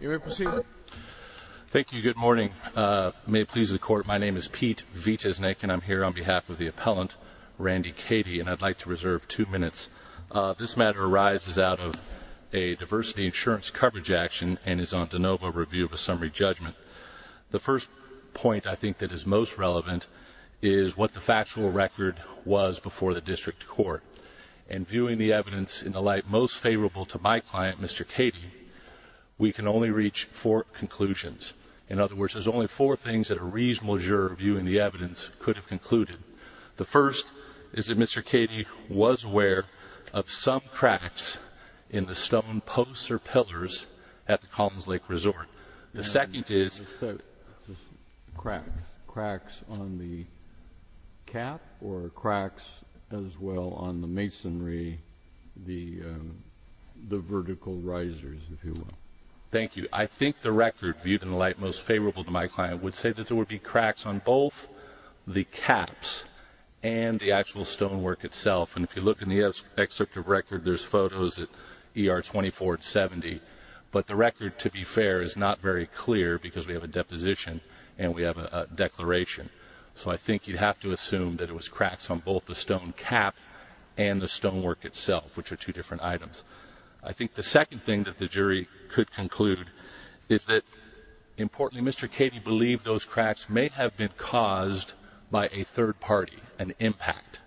You may proceed. Thank you, good morning. May it please the court, my name is Pete Viteznik and I'm here on behalf of the appellant Randy Kaady and I'd like to reserve two minutes. This matter arises out of a diversity insurance coverage action and is on de novo review of a summary judgment. The first point I think that is most relevant is what the factual record was before the district court and viewing the evidence in the light most favorable to my client Mr. Kaady, we can only reach four conclusions. In other words, there's only four things that a reasonable juror viewing the evidence could have concluded. The first is that Mr. Kaady was aware of some cracks in the stone posts or pillars at the Collins Lake Resort. The second is, cracks on the cap or cracks as well on the masonry, the vertical risers if you will. Thank you. I think the record viewed in the light most favorable to my client would say that there would be cracks on both the caps and the actual stonework itself and if you look in the excerpt of record there's photos at ER 2470 but the record to be fair is not very clear because we have a deposition and we have a declaration so I think you'd have to assume that it was cracks on both the stone cap and the stonework itself which are two different items. I think the second thing that the jury could conclude is that importantly Mr. Kaady believed those cracks may have been caused by a third party, an impact.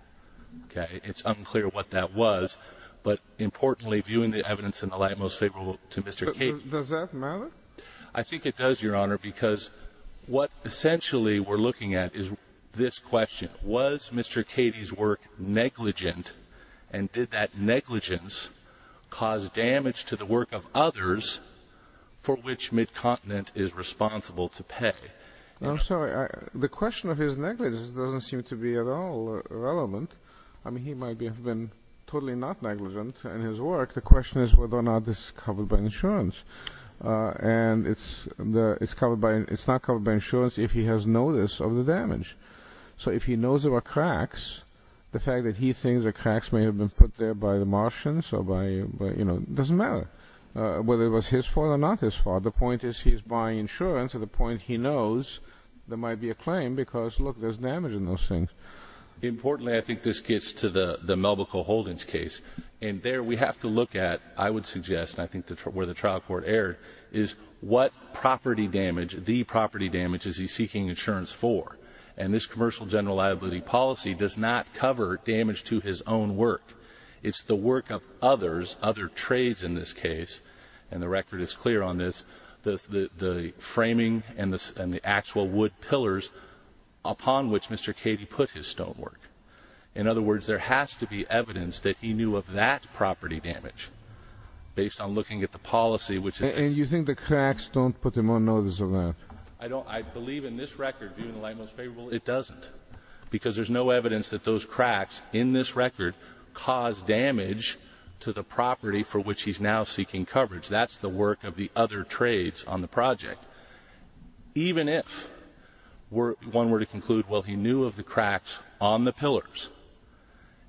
Okay it's unclear what that was but importantly viewing the evidence in the light most favorable to Mr. Kaady. Does that matter? I think it does your honor because what essentially we're looking at is this question. Was Mr. Kaady's work negligent and did that negligence cause damage to the work of others for which Midcontinent is responsible to pay? I'm sorry the question of his negligence doesn't seem to be at all relevant. I mean he might have been totally not negligent in his work. The question is whether or not this is covered by insurance and it's covered by, it's not covered by insurance if he has notice of the damage. So if he knows there were cracks the fact that he thinks the cracks may have been put there by the Martians or by you know doesn't matter whether it was his fault or not his fault. The point is he's buying insurance at the point he knows there might be a claim because look there's damage in those things. Importantly I think this gets to the the Melbicole Holdings case and there we have to look at I would suggest I think that's where the trial court erred is what property damage, the property damage is he seeking insurance for and this commercial general liability policy does not cover damage to his own work. It's the work of others, other trades in this case and the record is clear on this. The framing and the actual wood pillars upon which Mr. Kaady put his stonework. In other words there has to be evidence that he knew of that property damage based on looking at the policy which is. And you think the cracks don't put him on notice of that? I don't I believe in this record it doesn't because there's no evidence that those cracks in this record cause damage to the property for which he's now seeking coverage. That's the work of the other trades on the project. Even if we're one were to conclude well he knew of the cracks on the pillars.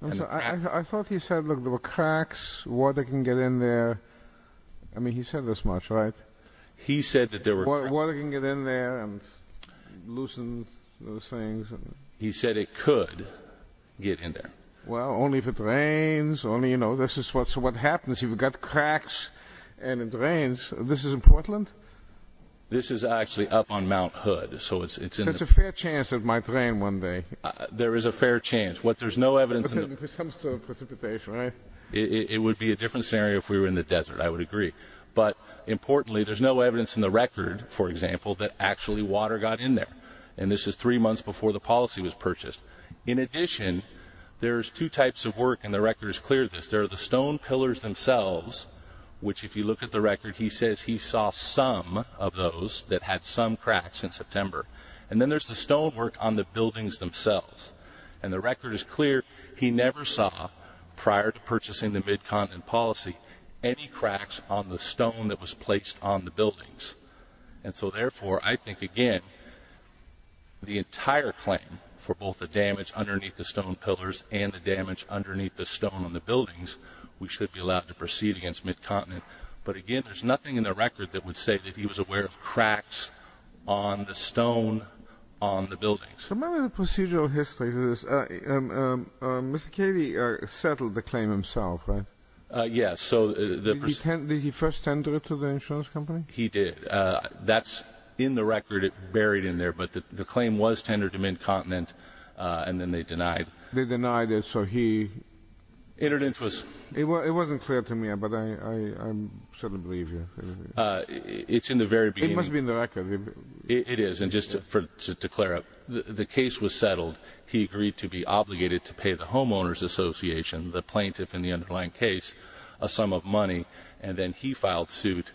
I thought he said look there were cracks, water can get in there. I mean he said this much right? He said that there were. Water can get in there and loosen those things. He said it could get in there. Well only if it rains only you know this is what's what happens if you've got cracks and it rains. This is in Portland? This is actually up on Mount Hood so it's it's a fair chance it might rain one day. There is a fair chance. What there's no evidence. It would be a different scenario if we were in the desert I would agree. But importantly there's no evidence in the record for example that actually water got in there. And this is three months before the policy was purchased. In addition there's two types of work and the record is clear this. There are the stone pillars themselves which if you look at the record he says he saw some of those that had some cracks in September. And then there's the stone work on the buildings themselves. And the record is clear he never saw prior to purchasing the Mid-Continent policy any cracks on the stone that was placed on the buildings. And so therefore I think again the entire claim for both the damage underneath the stone pillars and the damage underneath the stone on the buildings we should be allowed to proceed against Mid-Continent. But again there's nothing in the record that would say that he was aware of cracks on the stone on the buildings. Remember the procedural history. Mr. Cady settled the claim himself right? Yes. So did he first tender it to the insurance company? He did. That's in the record. It's buried in there. But the claim was tendered to Mid-Continent and then they denied. They denied it so he... It wasn't clear to me but I certainly believe you. It's in the very beginning. It must be in the record. It is and just to declare it. The case was settled. He agreed to be obligated to pay the Homeowners Association, the plaintiff in the underlying case, a sum of money and then he filed suit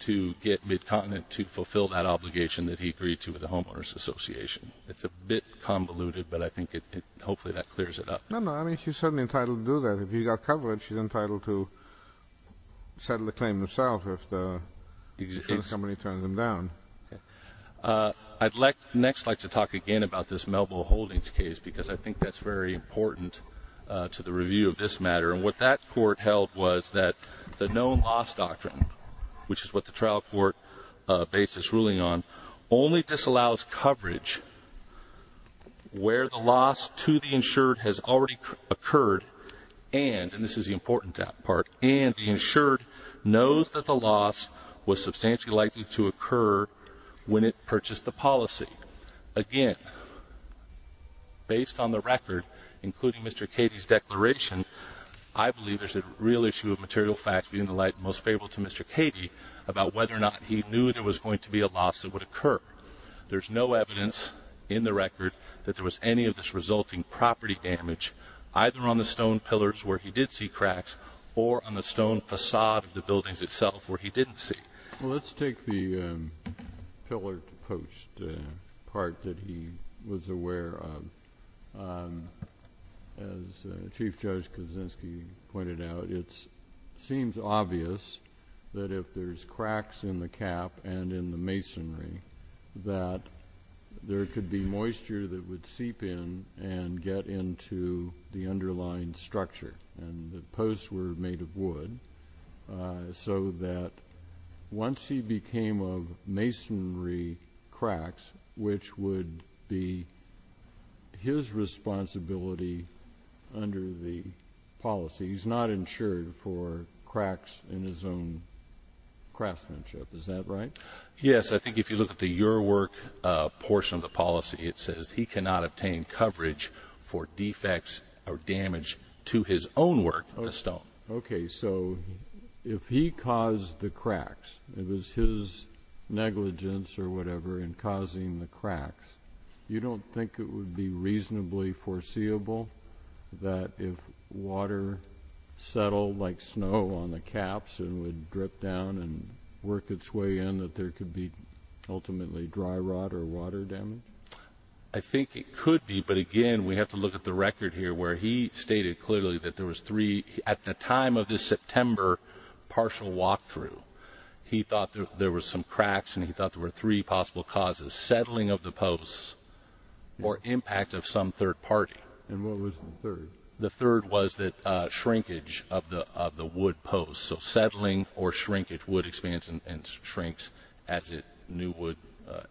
to get Mid-Continent to fulfill that obligation that he agreed to with the Homeowners Association. It's a bit convoluted but I think it hopefully that clears it up. No no I mean she's certainly entitled to do that. If he got coverage, she's entitled to settle the claim herself if the insurance company turns him down. I'd next like to talk again about this Melville Holdings case because I think that's very important to the review of this matter and what that court held was that the known loss doctrine, which is what the trial court basis ruling on, only disallows coverage where the loss to the insured has already occurred and, and this is the important part, and the insured knows that the loss was substantially likely to occur when it purchased the policy. Again, based on the record, including Mr. Cady's declaration, I believe there's a real issue of material facts being the light most favorable to Mr. Cady about whether or not he knew there was going to be a loss that would occur. There's no evidence in the record that there was any of this resulting property damage either on the stone pillars where he did see cracks or on the stone facade of the buildings itself where he didn't see. Let's take the pillar post part that he was aware of. As Chief Judge Kaczynski pointed out, it seems obvious that if there's cracks in the cap and in the masonry that there could be moisture that would seep in and get into the underlying structure. The posts were made of wood so that once he became of masonry cracks, which would be his responsibility under the policy, he's not insured for cracks in his own craftsmanship. Is that right? Yes, I think if you look at the your work portion of the policy it says he cannot obtain coverage for defects or damage to his own work on the stone. Okay, so if he caused the cracks, it was his negligence or whatever in causing the cracks, you don't think it would be reasonably foreseeable that if water settled like snow on the caps and would drip down and work its way in that there could be ultimately dry rot or water damage? I think it could be, but again we have to look at the record here where he stated clearly that there was three at the time of this September partial walkthrough. He thought there was some cracks and he thought there were three possible causes. Settling of the posts or impact of some third party. And what was the third? The third was that shrinkage of the wood posts. So settling or shrinkage, wood expands and shrinks as it new wood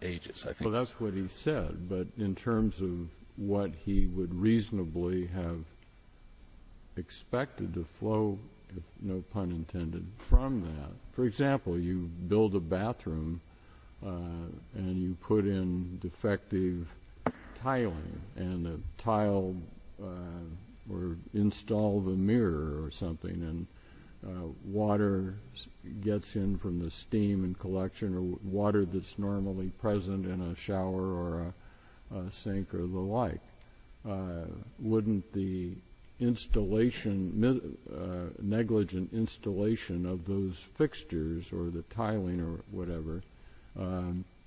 ages. Well that's what he said, but in terms of what he would reasonably have expected to flow, no pun intended, from that. For and you put in defective tiling and the tile or install the mirror or something and water gets in from the steam and collection or water that's normally present in a shower or sink or the like, wouldn't the installation, negligent installation of those fixtures or the tiling or whatever,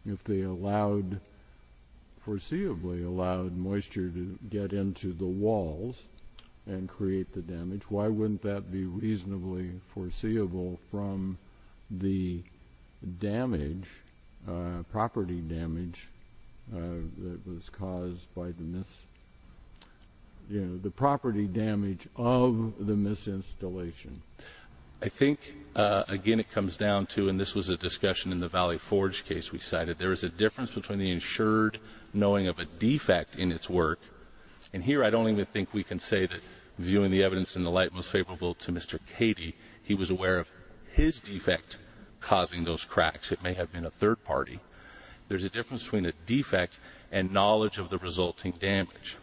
if they allowed, foreseeably allowed, moisture to get into the walls and create the damage, why wouldn't that be reasonably foreseeable from the damage, property damage, that was I think again it comes down to, and this was a discussion in the Valley Forge case we cited, there is a difference between the insured knowing of a defect in its work, and here I don't even think we can say that, viewing the evidence in the light most favorable to Mr. Katie, he was aware of his defect causing those cracks. It may have been a third party. There's a difference between a defect and knowledge of the resulting damage.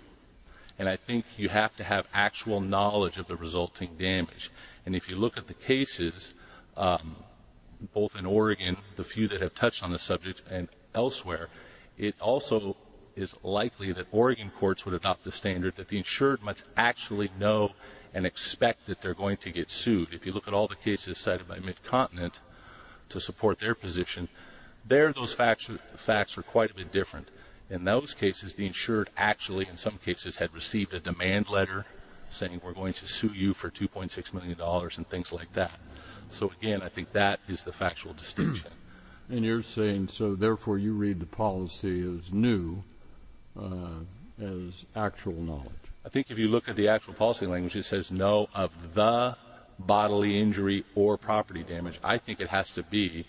And I think you have to have actual knowledge of the resulting damage. And if you look at the cases, both in Oregon, the few that have touched on the subject and elsewhere, it also is likely that Oregon courts would adopt the standard that the insured must actually know and expect that they're going to get sued. If you look at all the cases cited by Mid-Continent to support their position, there those facts are quite a bit different. In those cases the insured actually in some cases had received a we're going to sue you for 2.6 million dollars and things like that. So again I think that is the factual distinction. And you're saying so therefore you read the policy as new, as actual knowledge. I think if you look at the actual policy language it says no of the bodily injury or property damage. I think it has to be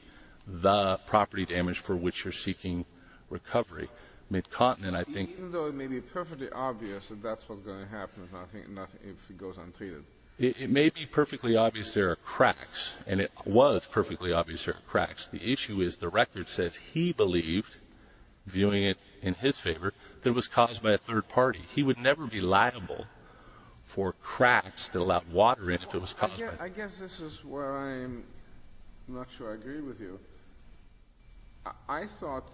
the property damage for which you're seeking recovery. Mid-Continent I think even though it may be perfectly obvious that that's what's going to happen, I think nothing if it goes untreated. It may be perfectly obvious there are cracks and it was perfectly obvious there are cracks. The issue is the record says he believed, viewing it in his favor, that it was caused by a third party. He would never be liable for cracks that allowed water in if it was caused by... I guess this is where I'm not sure I agree with you. I thought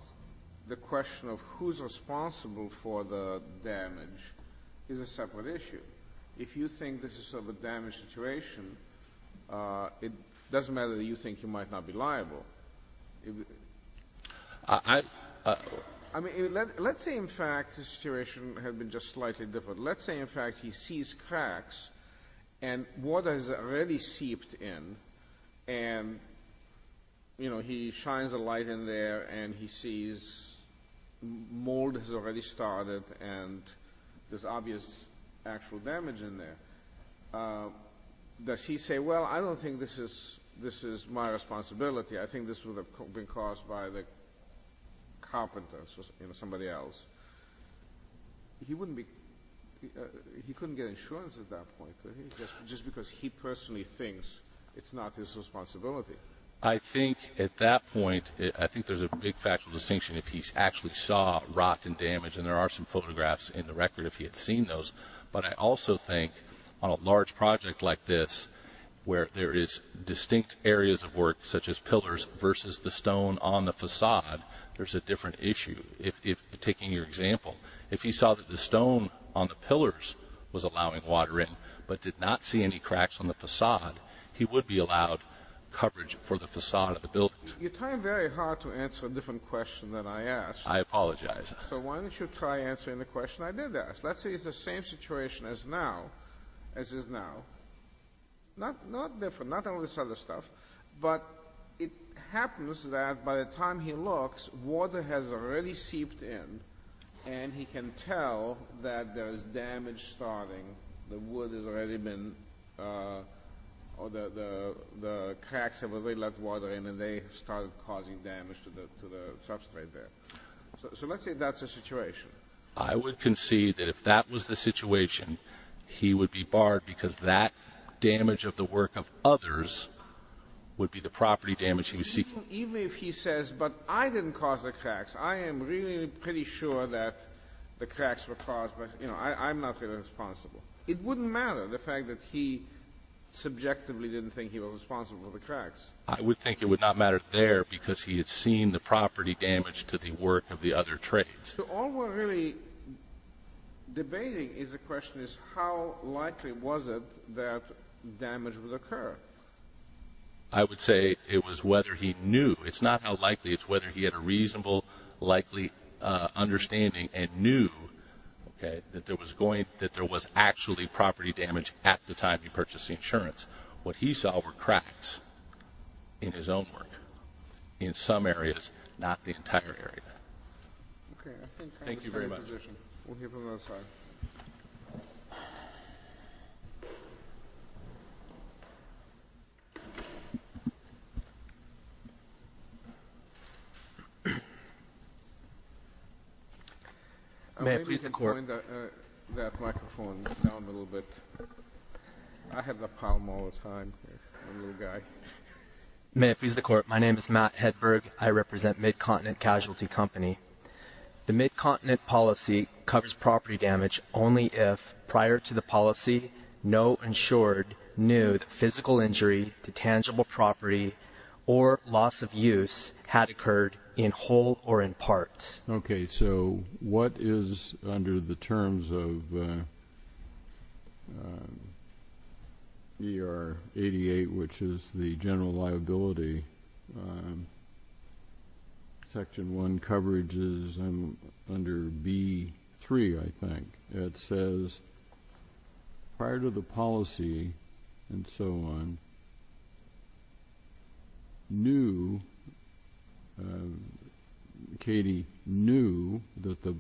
the question of who's responsible for the damage is a separate issue. If you think this is sort of a damaged situation, it doesn't matter that you think you might not be liable. I mean let's say in fact the situation had been just slightly different. Let's say in fact he sees cracks and water has already seeped in and you know he shines a light in there and he sees mold has already started and there's obvious actual damage in there. Does he say, well I don't think this is my responsibility. I think this would have been caused by the carpenter, somebody else. He wouldn't be, he couldn't get insurance at that point just because he personally thinks it's not his responsibility. I think at that point I think there's a big factual distinction if he actually saw rot and damage and there are some photographs in the record if he had seen those, but I also think on a large project like this where there is distinct areas of work such as pillars versus the stone on the facade, there's a different issue. Taking your example, if he saw that the stone on the pillars was allowing water in but did not see any cracks on the facade. You're trying very hard to answer a different question than I asked. I apologize. So why don't you try answering the question I did ask. Let's say it's the same situation as now, as is now. Not different, not all this other stuff, but it happens that by the time he looks, water has already seeped in and he can tell that there is damage starting. The wood has already been, or the cracks have already let water in and they started causing damage to the substrate there. So let's say that's the situation. I would concede that if that was the situation, he would be barred because that damage of the work of others would be the property damage he was seeking. Even if he says, but I didn't cause the cracks, I am really pretty sure that the cracks were caused by, you know, I'm not really responsible. It wouldn't matter, the fact that he subjectively didn't think he was responsible for the cracks. I would think it would not matter there because he had seen the property damage to the work of the other trades. So all we're really debating is the question is how likely was it that damage would occur? I would say it was whether he knew. It's not how likely, it's whether he had a reasonable, likely understanding and knew that there was going, that there was actually property damage at the time he purchased the insurance. What he saw were cracks in his own work, in some areas, not the entire area. May I please have the microphone down a little bit? I have the palm all the time, I'm a little guy. May I please have the court. My name is Matt Hedberg. I represent Midcontinent Casualty Company. The Midcontinent policy covers property damage only if, prior to the policy, no insured knew that physical injury to tangible property or loss of use had occurred in whole or in part. Okay, so what is under the terms of ER 88, which is the general liability, Section 1 coverage is under B3, I think. It says prior to the policy and so on, knew, Katie knew that the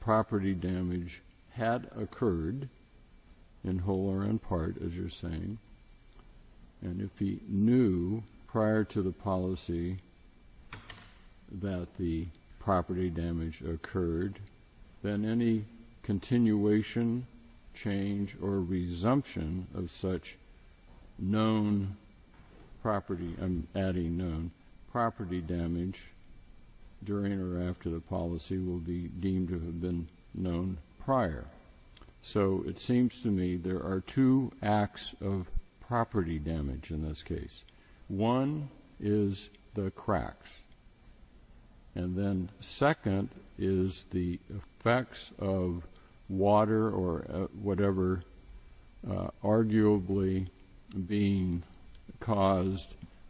property damage had occurred in whole or in part, as you're saying, and if he knew prior to the policy that the property damage occurred, then any continuation, change, or resumption of such known property, I'm adding known, property damage during or after the policy will be deemed to have been known prior. So it seems to me there are two acts of property damage in this of water or whatever, arguably being caused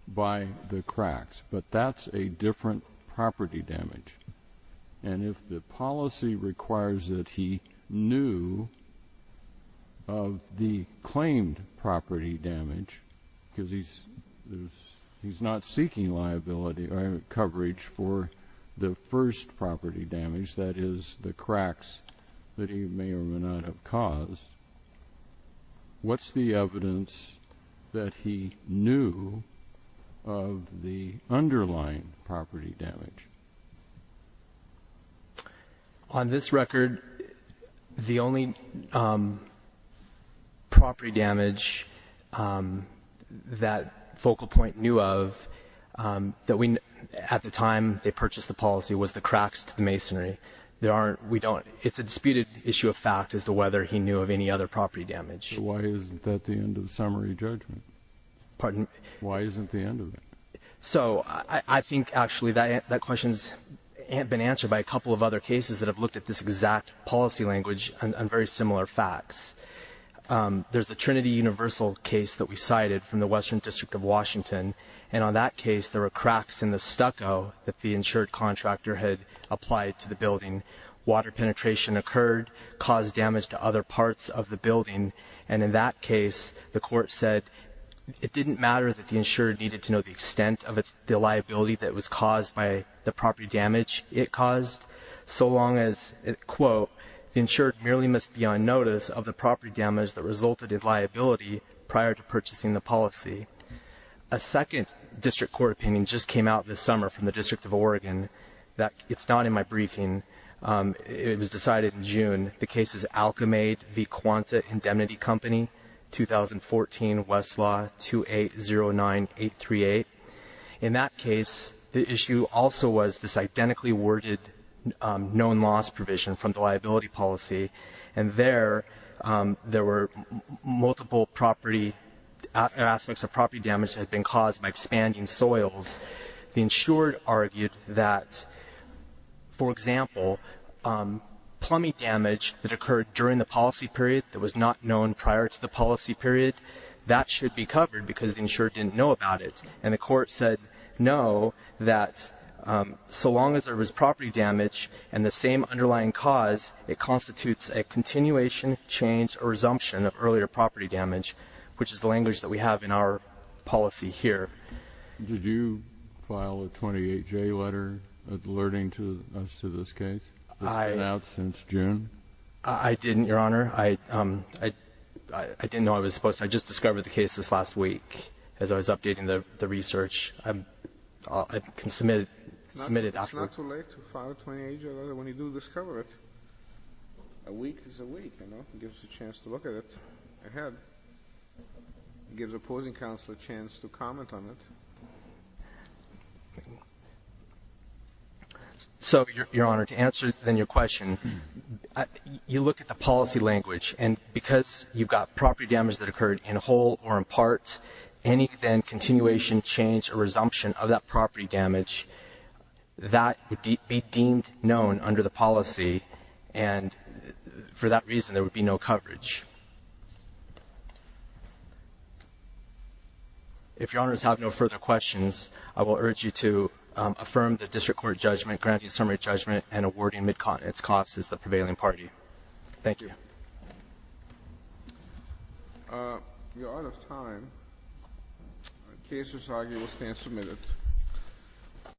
by the cracks, but that's a different property damage. And if the policy requires that he knew of the claimed property damage, because he's not seeking liability or coverage for the first property damage, that is the cracks that he may or may not have caused, what's the evidence that he knew of the underlying property damage? On this record, the only property damage that Focal Point knew of that we, at the time they purchased the policy was the cracks to the masonry. There aren't, we don't, it's a disputed issue of fact as to whether he knew of any other property damage. Why isn't that the end of the summary judgment? Pardon? Why isn't the end of it? So I think actually that question's been answered by a couple of other cases that have looked at this exact policy language on very similar facts. There's the Trinity Universal case that we cited from the Western District of Oregon where the insured contractor had applied to the building. Water penetration occurred, caused damage to other parts of the building, and in that case, the court said it didn't matter that the insured needed to know the extent of the liability that was caused by the property damage it caused, so long as, quote, the insured merely must be on notice of the property damage that resulted in liability prior to purchasing the policy. A second district court opinion just came out this summer from the District of Oregon. It's not in my briefing. It was decided in June. The case is Alkmaid v. Quanta Indemnity Company, 2014, Westlaw 2809838. In that case, the issue also was this identically worded known loss provision from the liability policy, and there were multiple aspects of property damage that had been caused by expanding soils. The insured argued that, for example, plumbing damage that occurred during the policy period that was not known prior to the policy period, that should be covered because the insured didn't know about it, and the court said no, that so long as there was property damage and the same underlying cause, it constitutes a continuation, change, or resumption of earlier property damage, which is the language that we have in our policy here. Did you file a 28-J letter alerting us to this case that's been out since June? I didn't, Your Honor. I didn't know I was supposed to. I just discovered the case this last week as I was updating the research. I can submit it afterwards. It's not too late to file a 28-J letter when you do discover it. A week is a week, you know. It gives us a chance to look at it ahead. It gives opposing counsel a chance to comment on it. So, Your Honor, to answer then your question, you look at the policy language, and because you've got property damage that occurred in whole or in part, any then continuation, change, or resumption of that property damage, that would be deemed known under the policy, and for that reason, there would be no coverage. If Your Honors have no further questions, I will urge you to affirm the district court judgment, granting summary judgment, and awarding MidCon. Its cost is the prevailing party. Thank you. You're out of time. The case is argued. We'll stand for a minute.